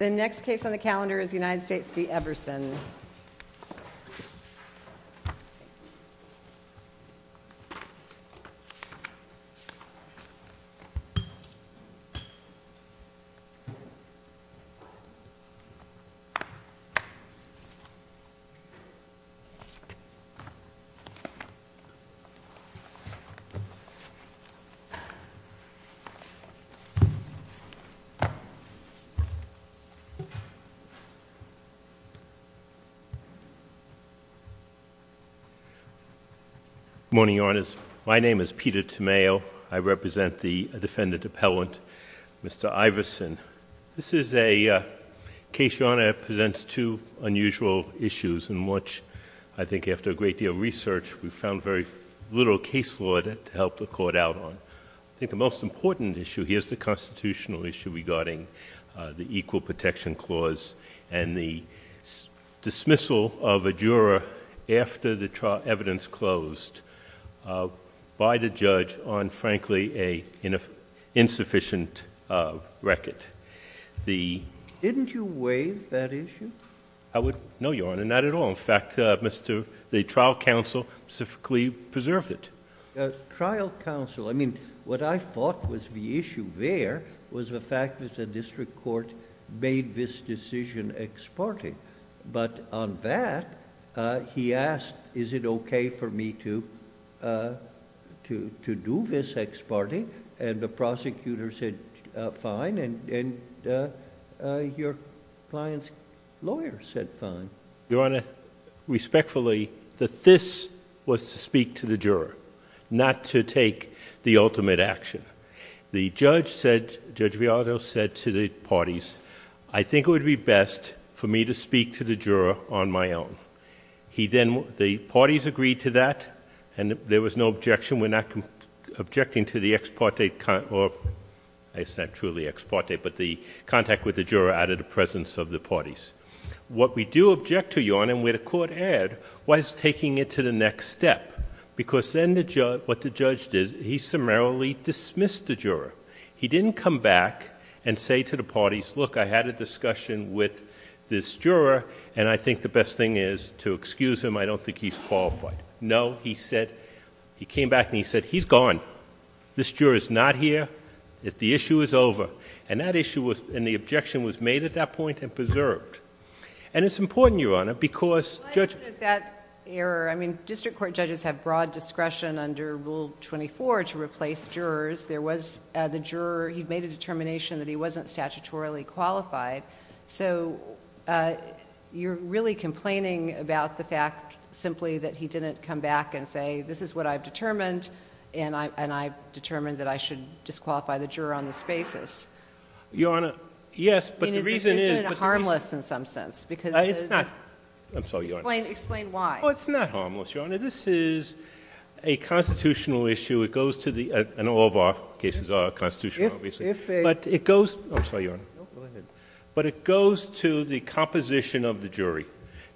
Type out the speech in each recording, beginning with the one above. The next case on the calendar is the United States v. Everson. Good morning, Your Honors. My name is Peter Tomeo. I represent the defendant appellant, Mr. Iverson. This is a case, Your Honor, that presents two unusual issues in which I think after a great deal of research, we found very little case law to help the court out on. I think the most important issue here is the constitutional issue regarding the Equal Protection Clause and the dismissal of a juror after the trial evidence closed by the judge on, frankly, an insufficient record. Didn't you waive that issue? I would—no, Your Honor. Not at all. In fact, the trial counsel specifically preserved it. Trial counsel, I mean, what I thought was the issue there was the fact that the district court made this decision ex parte, but on that, he asked, is it okay for me to do this ex parte, and the prosecutor said fine, and your client's lawyer said fine. Your Honor, respectfully, that this was to speak to the juror, not to take the ultimate action. The judge said, Judge Viado said to the parties, I think it would be best for me to speak to the juror on my own. He then—the parties agreed to that, and there was no objection. We're not objecting to the ex parte—it's not truly ex parte, but the contact with the juror out of the presence of the parties. What we do object to, Your Honor, and where the court erred, was taking it to the next step, because then what the judge did, he summarily dismissed the juror. He didn't come back and say to the parties, look, I had a discussion with this juror, and I think the best thing is to excuse him. I don't think he's qualified. No, he said—he came back and he said, he's gone. This juror's not here. The issue is over. And that issue was—and the objection was made at that point and preserved. And it's important, Your Honor, because— Well, I think that error—I mean, district court judges have broad discretion under Rule 24 to replace jurors. There was—the juror, he made a determination that he wasn't statutorily qualified. So you're really complaining about the fact simply that he didn't come back and say, this is what I've determined, and I've determined that I should disqualify the juror on this basis. Your Honor, yes, but the reason is— I mean, is it harmless in some sense? Because— It's not. I'm sorry, Your Honor. Explain why. Oh, it's not harmless, Your Honor. This is a constitutional issue. It goes to the—and all of our cases are constitutional, obviously. But it goes—I'm sorry, Your Honor. But it goes to the composition of the jury.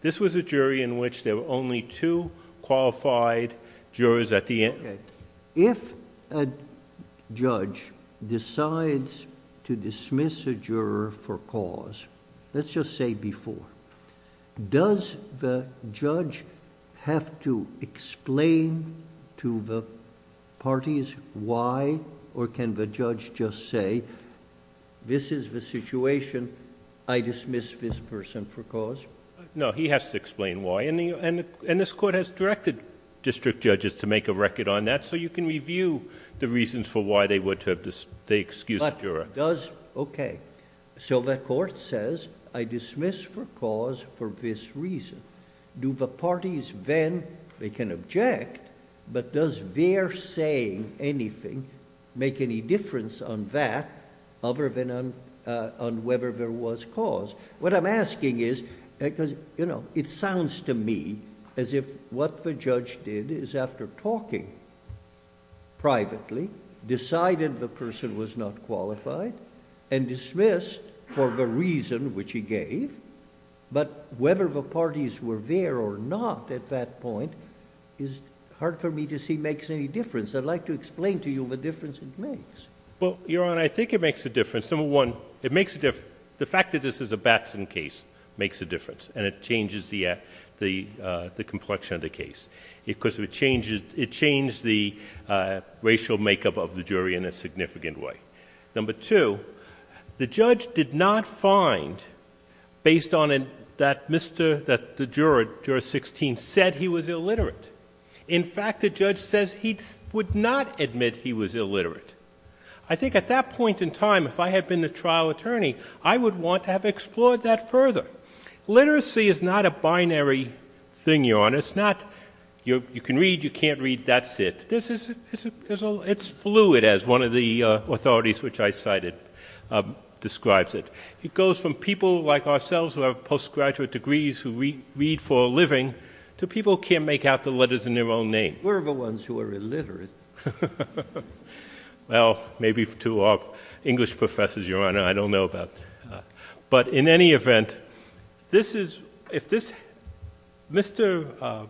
This was a jury in which there were only two qualified jurors at the end. Okay. If a judge decides to dismiss a juror for cause, let's just say before, does the judge have to explain to the parties why, or can the judge just say, this is the situation, I dismiss this person for cause? No, he has to explain why. And this Court has directed district judges to make a record on that so you can review the reasons for why they would have to excuse the juror. But does—okay. So the Court says, I dismiss for cause for this reason. Do the parties then, they can object, but does their saying anything make any difference on that other than on whether there was cause? What I'm asking is, because, you know, it sounds to me as if what the judge did is after talking privately, decided the person was not qualified, and dismissed for the reason which he gave. But whether the parties were there or not at that point is hard for me to see makes any difference. I'd like to explain to you the difference it makes. Well, Your Honor, I think it makes a difference. Number one, it makes a difference. The fact that this is a Batson case makes a difference, and it changes the complexion of the case. Because it changes the racial makeup of the jury in a significant way. Number two, the judge did not find, based on that the juror, juror 16, said he was illiterate. In fact, the judge says he would not admit he was illiterate. I think at that point in time, if I had been the trial attorney, I would want to have explored that further. Literacy is not a binary thing, Your Honor. It's not you can read, you can't read, that's it. It's fluid as one of the authorities which I cited describes it. It goes from people like ourselves who have postgraduate degrees who read for a living to people who can't make out the letters in their own name. We're the ones who are illiterate. Well, maybe to our English professors, Your Honor, I don't know about that. But in any event, this is, if this, Mr.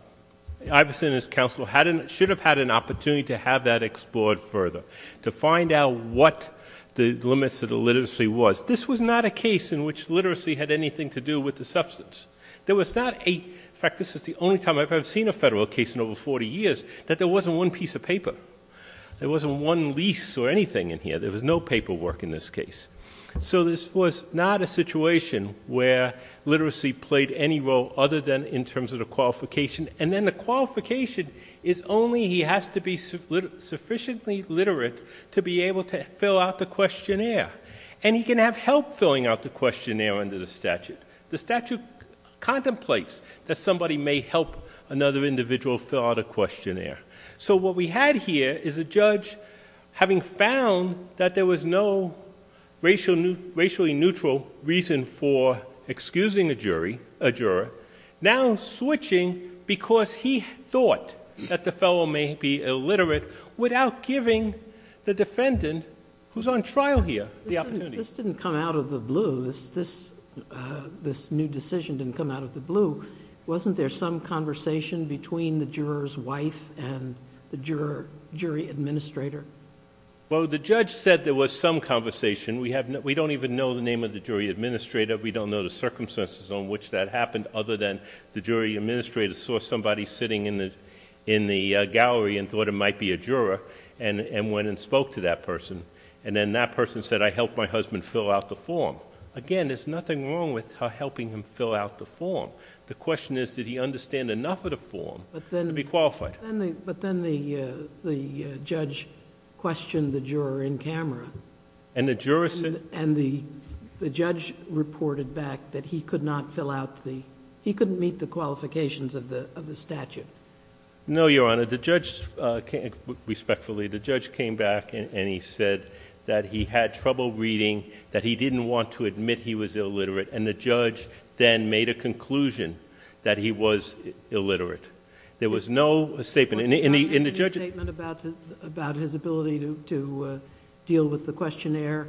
Iverson and his counsel should have had an opportunity to have that explored further, to find out what the limits of the literacy was. This was not a case in which literacy had anything to do with the substance. There was not a, in fact, this is the only time I've ever seen a federal case in over 40 years that there wasn't one piece of paper. There wasn't one lease or anything in here. There was no paperwork in this case. So this was not a situation where literacy played any role other than in terms of the qualification. And then the qualification is only he has to be sufficiently literate to be able to fill out the questionnaire. And he can have help filling out the questionnaire under the statute. The statute contemplates that somebody may help another individual fill out a questionnaire. So what we had here is a judge having found that there was no racially neutral reason for excusing a jury, a juror, now switching because he thought that the fellow may be illiterate without giving the defendant who's on trial here the opportunity. This didn't come out of the blue. This new decision didn't come out of the blue. Wasn't there some conversation between the juror's wife and the jury administrator? Well, the judge said there was some conversation. We don't even know the name of the jury administrator. We don't know the circumstances on which that happened other than the jury administrator saw somebody sitting in the gallery and thought it might be a juror and went and spoke to that person. And then that person said, I helped my husband fill out the form. Again, there's nothing wrong with her helping him fill out the form. The question is, did he understand enough of the form to be qualified? But then the judge questioned the juror in camera. And the judge reported back that he could not fill out the, he couldn't meet the qualifications of the statute. No, Your Honor. The judge, respectfully, the judge came back and he said that he had trouble reading, that he didn't want to admit he was illiterate. And the judge then made a conclusion that he was illiterate. There was no statement. And the judge... Your Honor, did he have any statement about his ability to deal with the questionnaire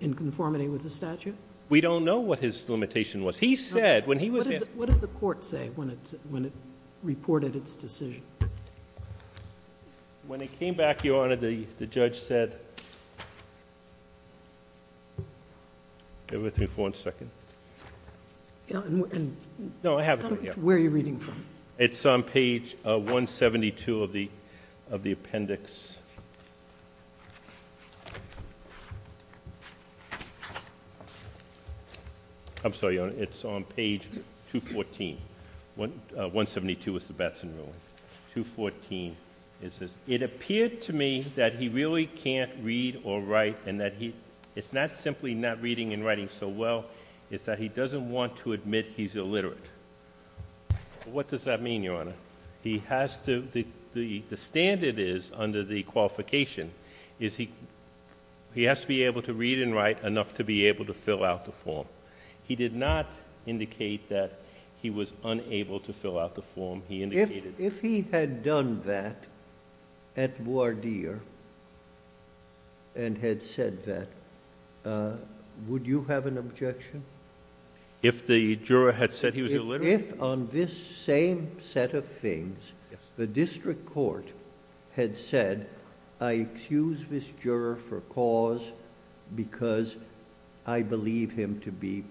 in conformity with the statute? We don't know what his limitation was. He said when he was... What did the court say when it reported its decision? When it came back, Your Honor, the judge said... Bear with me for one second. No, I have it. Where are you reading from? It's on page 172 of the appendix. I'm sorry, Your Honor, it's on page 214, 172 is the Batson ruling, 214. It says, it appeared to me that he really can't read or write and that it's not simply not reading and writing so well, it's that he doesn't want to admit he's illiterate. What does that mean, Your Honor? He has to... The standard is under the qualification is he has to be able to read and write enough to be able to fill out the form. He did not indicate that he was unable to fill out the form he indicated. If he had done that at voir dire and had said that, would you have an objection? If the juror had said he was illiterate? If on this same set of things, the district court had said, I excuse this juror for cause because I believe him to be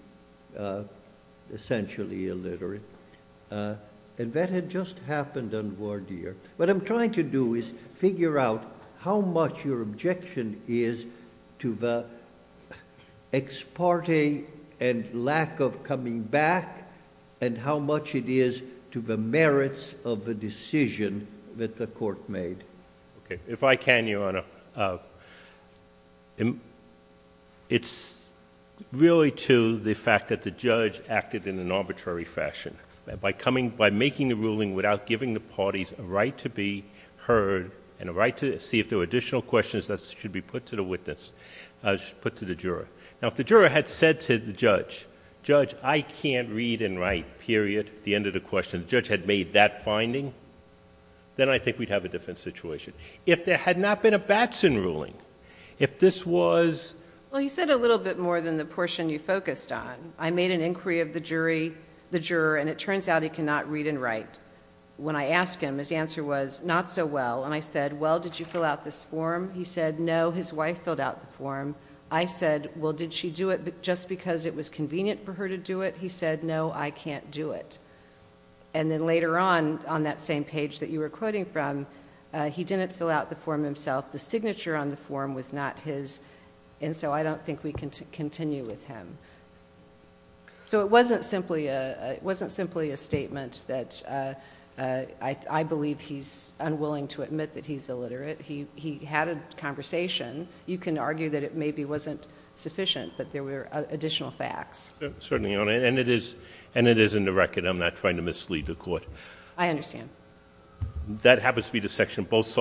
essentially illiterate, and that had just happened on voir dire, what I'm trying to do is figure out how much your objection is to the ex parte and lack of coming back and how much it is to the merits of the decision that the court made. If I can, Your Honor, it's really to the fact that the judge acted in an arbitrary fashion by making the ruling without giving the parties a right to be heard and a right to see if there were additional questions that should be put to the witness, put to the juror. Now, if the juror had said to the judge, Judge, I can't read and write, period, at the end of the question, the judge had made that finding, then I think we'd have a different situation. If there had not been a Batson ruling, if this was... Well, you said a little bit more than the portion you focused on. I made an inquiry of the jury, the juror, and it turns out he cannot read and write. When I asked him, his answer was, not so well, and I said, well, did you fill out this form? He said, no, his wife filled out the form. I said, well, did she do it just because it was convenient for her to do it? He said, no, I can't do it. And then later on, on that same page that you were quoting from, he didn't fill out the form himself. The signature on the form was not his, and so I don't think we can continue with him. So it wasn't simply a statement that I believe he's unwilling to admit that he's illiterate. He had a conversation. You can argue that it maybe wasn't sufficient, but there were additional facts. Certainly, Your Honor, and it is in the record. I'm not trying to mislead the Court. I understand. That happens to be the section both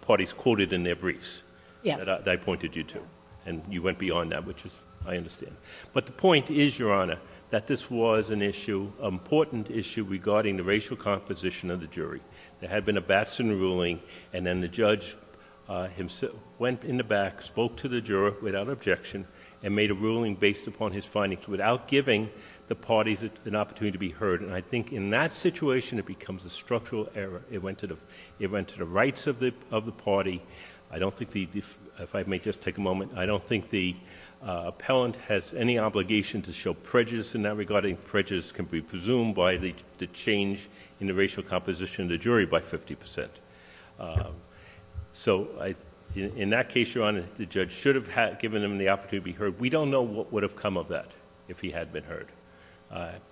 parties quoted in their briefs that I pointed you to, and you went beyond that, which I understand. But the point is, Your Honor, that this was an issue, an important issue regarding the racial composition of the jury. There had been a Batson ruling, and then the judge himself went in the back, spoke to the juror without objection, and made a ruling based upon his findings without giving the parties an opportunity to be heard. And I think in that situation, it becomes a structural error. It went to the rights of the party. I don't think the—if I may just take a moment—I don't think the appellant has any obligation to show prejudice in that regard. I think prejudice can be presumed by the change in the racial composition of the jury by fifty percent. So in that case, Your Honor, the judge should have given him the opportunity to be heard. We don't know what would have come of that if he had been heard.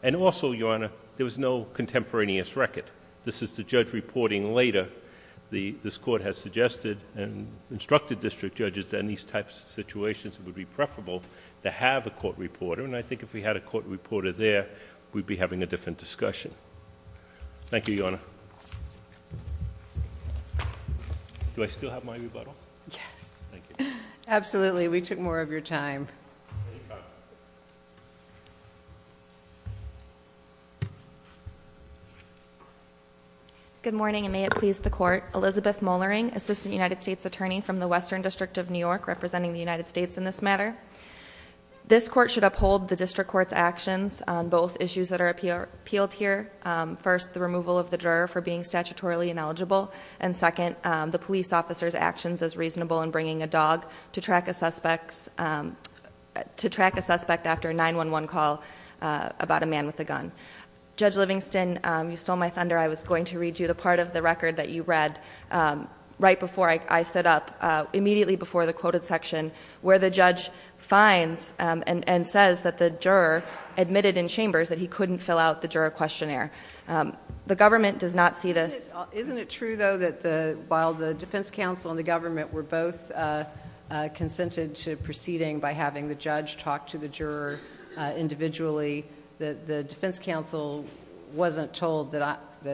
And also, Your Honor, there was no contemporaneous record. This is the judge reporting later. This Court has suggested and instructed district judges that in these types of situations, it would be preferable to have a court reporter. And I think if we had a court reporter there, we'd be having a different discussion. Thank you, Your Honor. Do I still have my rebuttal? Yes. Thank you. Absolutely. We took more of your time. Any time. Good morning, and may it please the Court. Elizabeth Mollering, Assistant United States Attorney from the Western District of New York, representing the United States in this matter. This Court should uphold the district court's actions on both issues that are appealed here. First, the removal of the juror for being statutorily ineligible. And second, the police officer's actions as reasonable in bringing a dog to track a suspect after a 911 call about a man with a gun. Judge Livingston, you stole my thunder. I was going to read you the part of the record that you read right before I stood up, immediately before the quoted section, where the judge finds and says that the juror admitted in chambers that he couldn't fill out the juror questionnaire. The government does not see this. Isn't it true, though, that while the defense counsel and the government were both consented to proceeding by having the judge talk to the juror individually, that the defense counsel wasn't told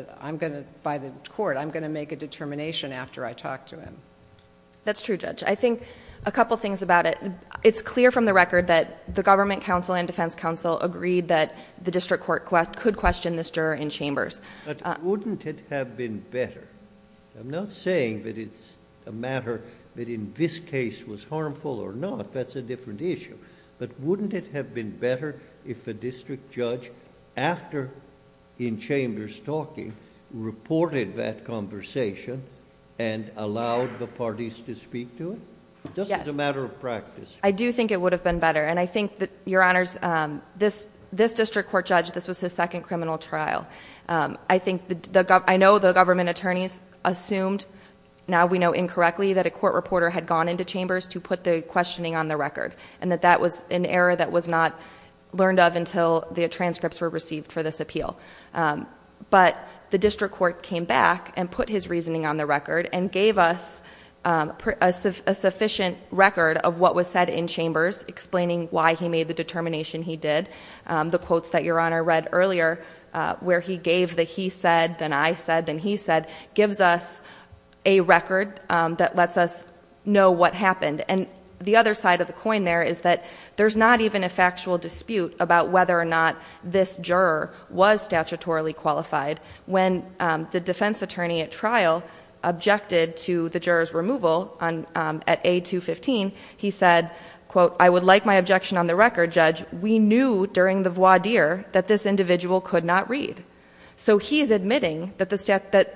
by the court, I'm going to make a determination after I talk to him? That's true, Judge. I think a couple things about it. It's clear from the record that the government counsel and defense counsel agreed that the district court could question this juror in chambers. But wouldn't it have been better? I'm not saying that it's a matter that in this case was harmful or not. That's a different issue. But wouldn't it have been better if the district judge, after in chambers talking, reported that conversation and allowed the parties to speak to it, just as a matter of practice? I do think it would have been better. And I think that, Your Honors, this district court judge, this was his second criminal trial. I know the government attorneys assumed, now we know incorrectly, that a court reporter had gone into chambers to put the questioning on the record. And that that was an error that was not learned of until the transcripts were received for this appeal. But the district court came back and put his reasoning on the record and gave us a sufficient record of what was said in chambers, explaining why he made the determination he did. The quotes that Your Honor read earlier, where he gave the he said, then I said, then he said, gives us a record that lets us know what happened. And the other side of the coin there is that there's not even a factual dispute about whether or not this juror was statutorily qualified when the defense attorney at trial objected to the juror's removal at A215, he said, quote, I would like my objection on the record, judge, we knew during the voir dire that this individual could not read. So he's admitting that the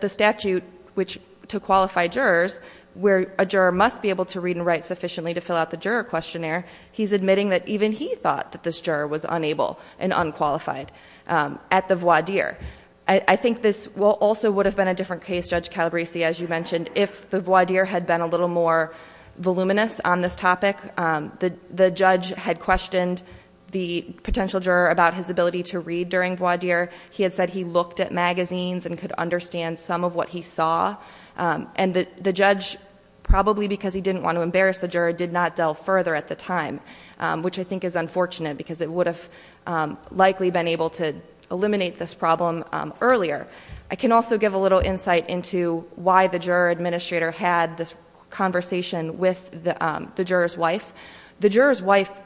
statute, which to qualify jurors, where a juror must be able to read and write sufficiently to fill out the juror questionnaire, he's admitting that even he thought that this juror was unable and unqualified at the voir dire. I think this also would have been a different case, Judge Calabresi, as you mentioned, if the voir dire had been a little more voluminous on this topic. The judge had questioned the potential juror about his ability to read during voir dire. He had said he looked at magazines and could understand some of what he saw. And the judge, probably because he didn't want to embarrass the juror, did not delve further at the time. Which I think is unfortunate, because it would have likely been able to eliminate this problem earlier. I can also give a little insight into why the juror administrator had this conversation with the juror's wife. The juror's wife,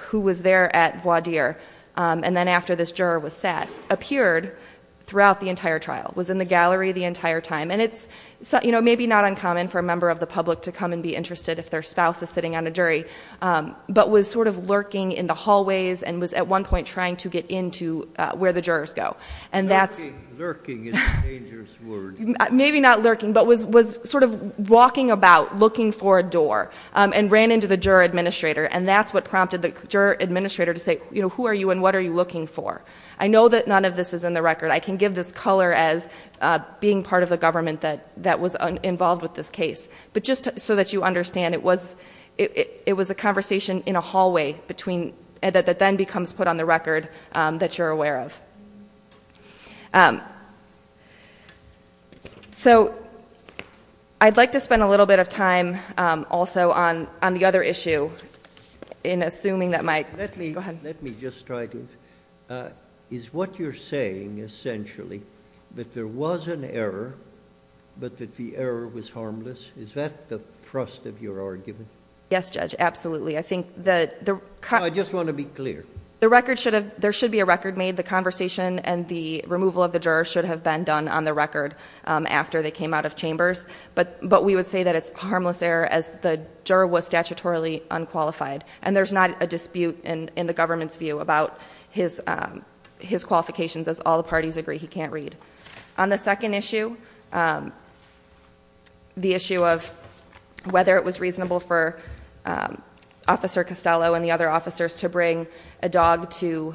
who was there at voir dire and then after this juror was sat, appeared throughout the entire trial, was in the gallery the entire time. And it's maybe not uncommon for a member of the public to come and be interested if their spouse is sitting on a jury. But was sort of lurking in the hallways and was at one point trying to get into where the jurors go. And that's- Lurking is a dangerous word. Maybe not lurking, but was sort of walking about, looking for a door, and ran into the juror administrator. And that's what prompted the juror administrator to say, who are you and what are you looking for? I know that none of this is in the record. I can give this color as being part of the government that was involved with this case. But just so that you understand, it was a conversation in a hallway that then becomes put on the record that you're aware of. So I'd like to spend a little bit of time also on the other issue in assuming that my, go ahead. Let me just try to, is what you're saying essentially that there was an error, but that the error was harmless? Is that the thrust of your argument? Yes, Judge, absolutely. I think that the- I just want to be clear. The record should have, there should be a record made. The conversation and the removal of the juror should have been done on the record after they came out of chambers. But we would say that it's a harmless error as the juror was statutorily unqualified. And there's not a dispute in the government's view about his qualifications as all the parties agree he can't read. On the second issue, the issue of whether it was reasonable for Officer Costello and the other officers to bring a dog to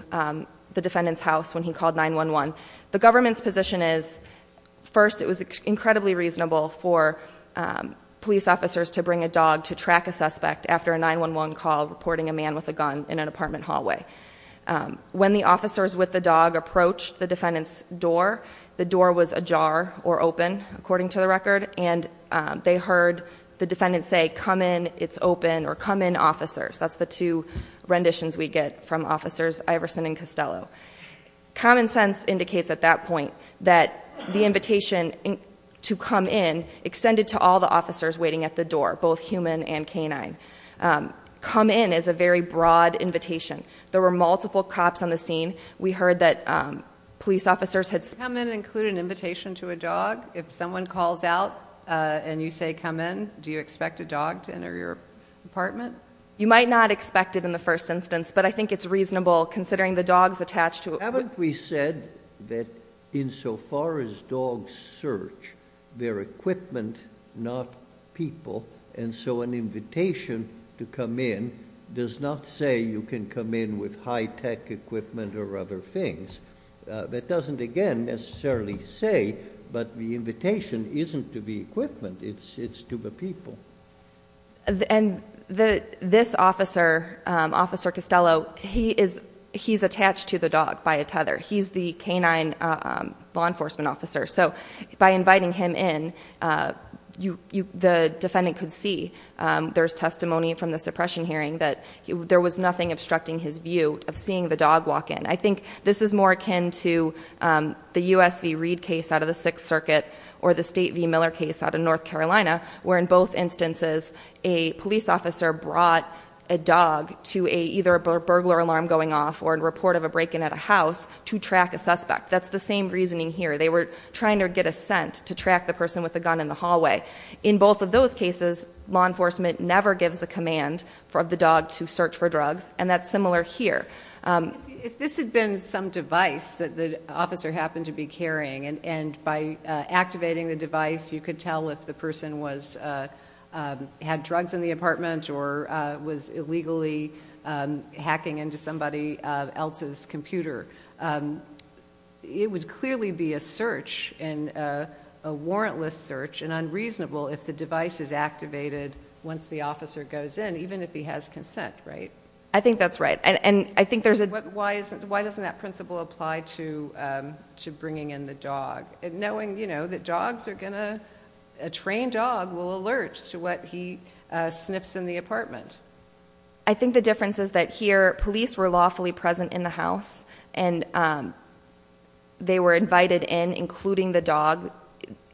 the defendant's house when he called 911. The government's position is, first, it was incredibly reasonable for a dog to call 911 while reporting a man with a gun in an apartment hallway. When the officers with the dog approached the defendant's door, the door was ajar or open, according to the record. And they heard the defendant say, come in, it's open, or come in, officers. That's the two renditions we get from officers Iverson and Costello. Common sense indicates at that point that the invitation to come in extended to all the officers waiting at the door, both human and canine. Come in is a very broad invitation. There were multiple cops on the scene. We heard that police officers had said- Come in and include an invitation to a dog. If someone calls out and you say come in, do you expect a dog to enter your apartment? You might not expect it in the first instance, but I think it's reasonable considering the dog's attached to a- Haven't we said that insofar as dogs search, they're equipment, not people, and so an invitation to come in does not say you can come in with high tech equipment or other things. That doesn't, again, necessarily say, but the invitation isn't to the equipment, it's to the people. And this officer, Officer Costello, he's attached to the dog by a tether. He's the canine law enforcement officer. So by inviting him in, the defendant could see, there's testimony from the suppression hearing that there was nothing obstructing his view of seeing the dog walk in. I think this is more akin to the USV Reed case out of the Sixth Circuit or the State v Miller case out of North Carolina, where in both instances a police officer brought a dog to either a burglar alarm going off or a report of a break in at a house to track a suspect. That's the same reasoning here. They were trying to get a scent to track the person with the gun in the hallway. In both of those cases, law enforcement never gives a command for the dog to search for drugs, and that's similar here. If this had been some device that the officer happened to be carrying, and by activating the device, you could tell if the person had drugs in the apartment or was illegally hacking into somebody else's computer. It would clearly be a search, a warrantless search, and unreasonable if the device is activated once the officer goes in, even if he has consent, right? I think that's right, and I think there's a- Why doesn't that principle apply to bringing in the dog? Knowing that dogs are going to, a trained dog will alert to what he sniffs in the apartment. I think the difference is that here, police were lawfully present in the house, and they were invited in, including the dog,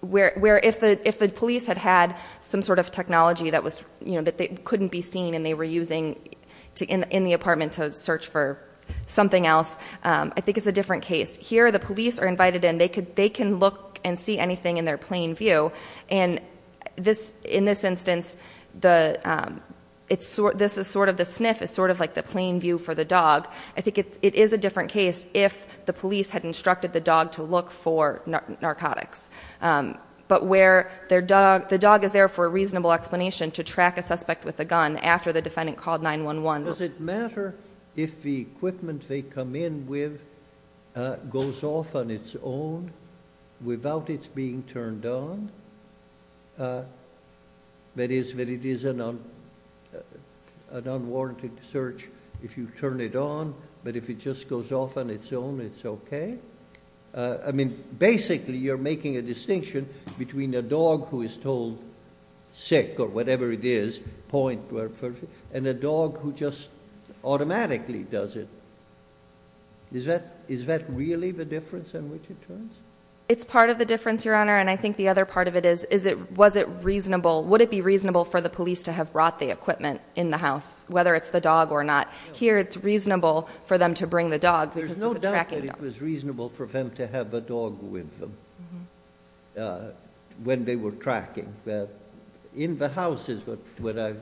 where if the police had had some sort of technology that they couldn't be seen, and they were using in the apartment to search for something else, I think it's a different case. Here, the police are invited in, they can look and see anything in their plain view. And in this instance, the sniff is sort of like the plain view for the dog. I think it is a different case if the police had instructed the dog to look for narcotics. But where the dog is there for a reasonable explanation to track a suspect with a gun after the defendant called 911. Does it matter if the equipment they come in with goes off on its own without it being turned on? That is, that it is an unwarranted search if you turn it on, but if it just goes off on its own, it's okay? I mean, basically, you're making a distinction between a dog who is told sick or whatever it is, point, and a dog who just automatically does it. Is that really the difference in which it turns? It's part of the difference, Your Honor, and I think the other part of it is, was it reasonable? Would it be reasonable for the police to have brought the equipment in the house, whether it's the dog or not? Here, it's reasonable for them to bring the dog because it's a tracking dog. There's no doubt that it was reasonable for them to have a dog with them when they were tracking. But in the house is what I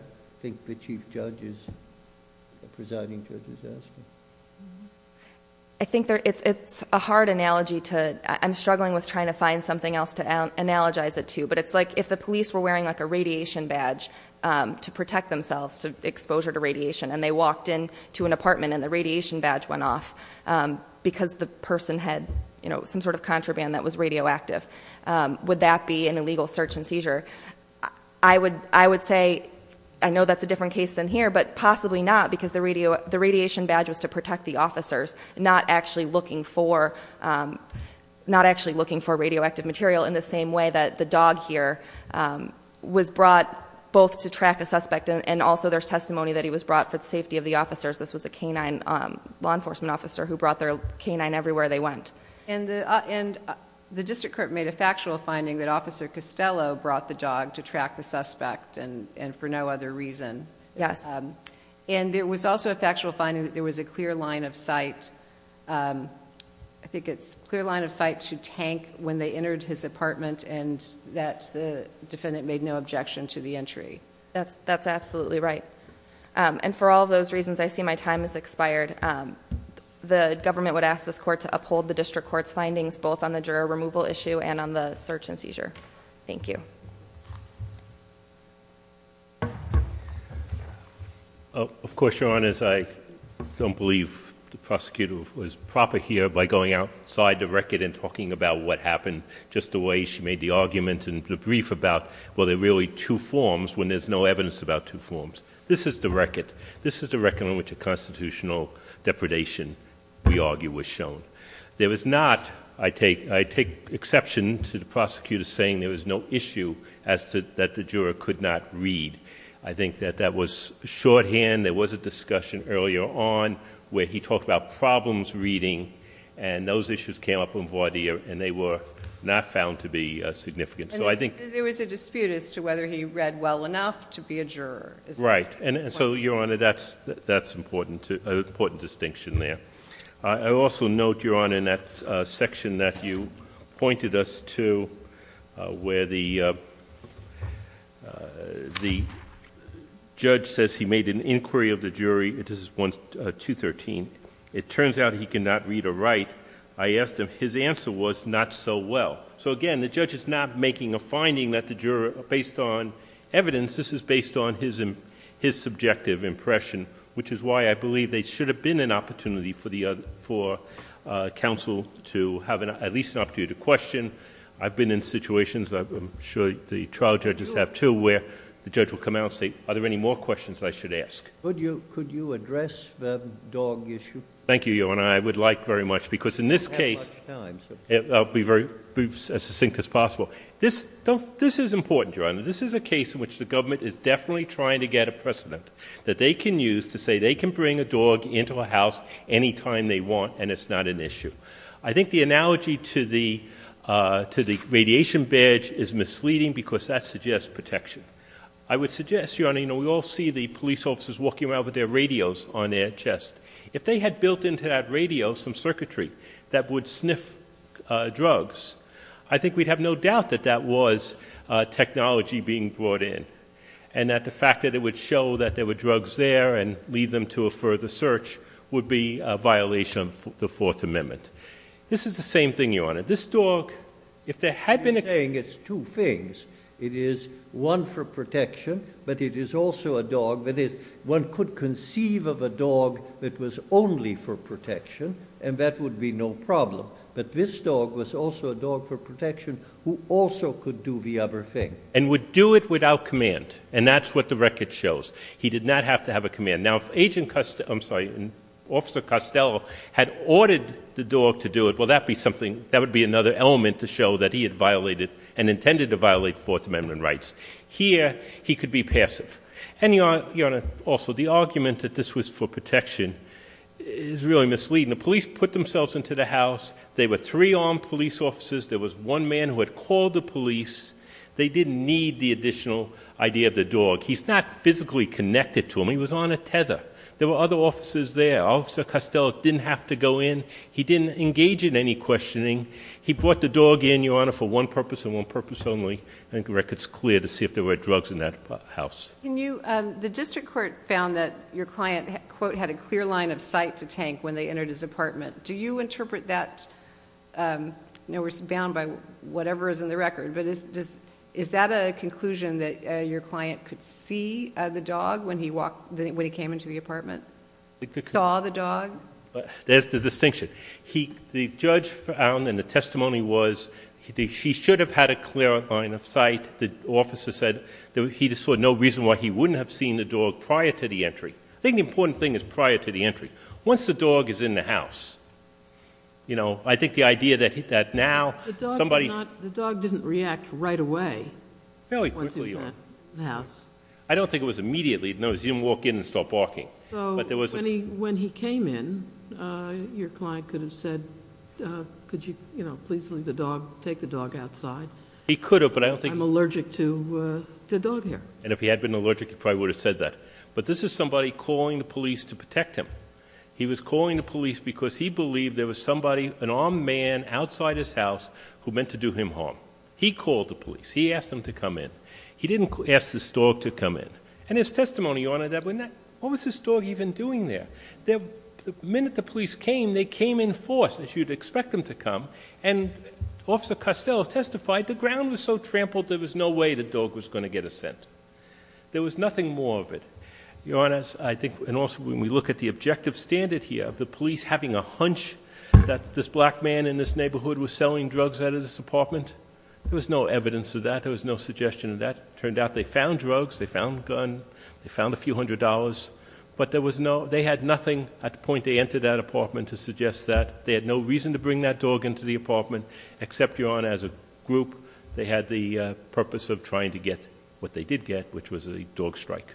think the chief judge is, the presiding judge is asking. I think it's a hard analogy to, I'm struggling with trying to find something else to analogize it to. But it's like if the police were wearing a radiation badge to protect themselves, to exposure to radiation. And they walked into an apartment and the radiation badge went off because the person had some sort of contraband that was radioactive. Would that be an illegal search and seizure? I would say, I know that's a different case than here, but possibly not because the radiation badge was to protect the officers. Not actually looking for radioactive material in the same way that the dog here was brought both to track a suspect and also there's testimony that he was brought for the safety of the officers. This was a canine law enforcement officer who brought their canine everywhere they went. And the district court made a factual finding that Officer Costello brought the dog to track the suspect and for no other reason. Yes. And there was also a factual finding that there was a clear line of sight. I think it's clear line of sight to tank when they entered his apartment and that the defendant made no objection to the entry. That's absolutely right. And for all those reasons, I see my time has expired. The government would ask this court to uphold the district court's findings, both on the juror removal issue and on the search and seizure. Thank you. Of course, your honors, I don't believe the prosecutor was proper here by going outside the record and talking about what happened just the way she made the argument and the brief about, well, there are really two forms when there's no evidence about two forms. This is the record on which a constitutional depredation, we argue, was shown. There was not, I take exception to the prosecutor saying there was no issue as to that the juror could not read. I think that that was shorthand. There was a discussion earlier on where he talked about problems reading and those issues came up in voir dire and they were not found to be significant. So I think- Right, and so, your honor, that's an important distinction there. I also note, your honor, in that section that you pointed us to where the judge says he made an inquiry of the jury, this is 1213, it turns out he cannot read or write. I asked him, his answer was not so well. So again, the judge is not making a finding that the juror, based on evidence, this is based on his subjective impression, which is why I believe there should have been an opportunity for the other, for counsel to have at least an opportunity to question. I've been in situations, I'm sure the trial judges have too, where the judge will come out and say, are there any more questions I should ask? Could you address the dog issue? Thank you, your honor, I would like very much because in this case, I'll be as succinct as possible. This is important, your honor. This is a case in which the government is definitely trying to get a precedent that they can use to say they can bring a dog into a house anytime they want and it's not an issue. I think the analogy to the radiation badge is misleading because that suggests protection. I would suggest, your honor, we all see the police officers walking around with their radios on their chest. If they had built into that radio some circuitry that would sniff drugs, I think we'd have no doubt that that was technology being brought in. And that the fact that it would show that there were drugs there and lead them to a further search would be a violation of the Fourth Amendment. This is the same thing, your honor. This dog, if there had been a- Saying it's two things. It is one for protection, but it is also a dog that one could conceive of a dog that was only for protection, and that would be no problem. But this dog was also a dog for protection who also could do the other thing. And would do it without command. And that's what the record shows. He did not have to have a command. Now, if Agent, I'm sorry, Officer Costello had ordered the dog to do it, well that would be another element to show that he had violated and intended to violate Fourth Amendment rights. Here, he could be passive. And your honor, also the argument that this was for protection is really misleading. The police put themselves into the house. There were three armed police officers. There was one man who had called the police. They didn't need the additional idea of the dog. He's not physically connected to him. He was on a tether. There were other officers there. Officer Costello didn't have to go in. He didn't engage in any questioning. He brought the dog in, your honor, for one purpose and one purpose only. I think the record's clear to see if there were drugs in that house. The district court found that your client, quote, had a clear line of sight to tank when they entered his apartment. Do you interpret that, I know we're bound by whatever is in the record, but is that a conclusion that your client could see the dog when he came into the apartment, saw the dog? There's the distinction. The judge found, and the testimony was, he should have had a clear line of sight. The officer said that he saw no reason why he wouldn't have seen the dog prior to the entry. I think the important thing is prior to the entry. Once the dog is in the house, I think the idea that now somebody- The dog didn't react right away once he went in the house. I don't think it was immediately. No, he didn't walk in and start barking, but there was- When he came in, your client could have said, could you please leave the dog, take the dog outside? He could have, but I don't think- I'm allergic to dog hair. And if he had been allergic, he probably would have said that. But this is somebody calling the police to protect him. He was calling the police because he believed there was somebody, an armed man, outside his house who meant to do him harm. He called the police. He asked him to come in. He didn't ask this dog to come in. And his testimony, Your Honor, that when that, what was this dog even doing there? The minute the police came, they came in force, as you'd expect them to come. And Officer Costello testified, the ground was so trampled, there was no way the dog was going to get a scent. There was nothing more of it. Your Honors, I think, and also when we look at the objective standard here of the police having a hunch that this black man in this neighborhood was selling drugs out of this apartment, there was no evidence of that. There was no suggestion of that. Turned out they found drugs, they found a gun, they found a few hundred dollars. But they had nothing at the point they entered that apartment to suggest that. They had no reason to bring that dog into the apartment, except, Your Honor, as a group. They had the purpose of trying to get what they did get, which was a dog strike.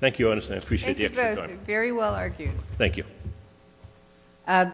Thank you, Your Honor, and I appreciate the extra time. Thank you both, very well argued. Thank you.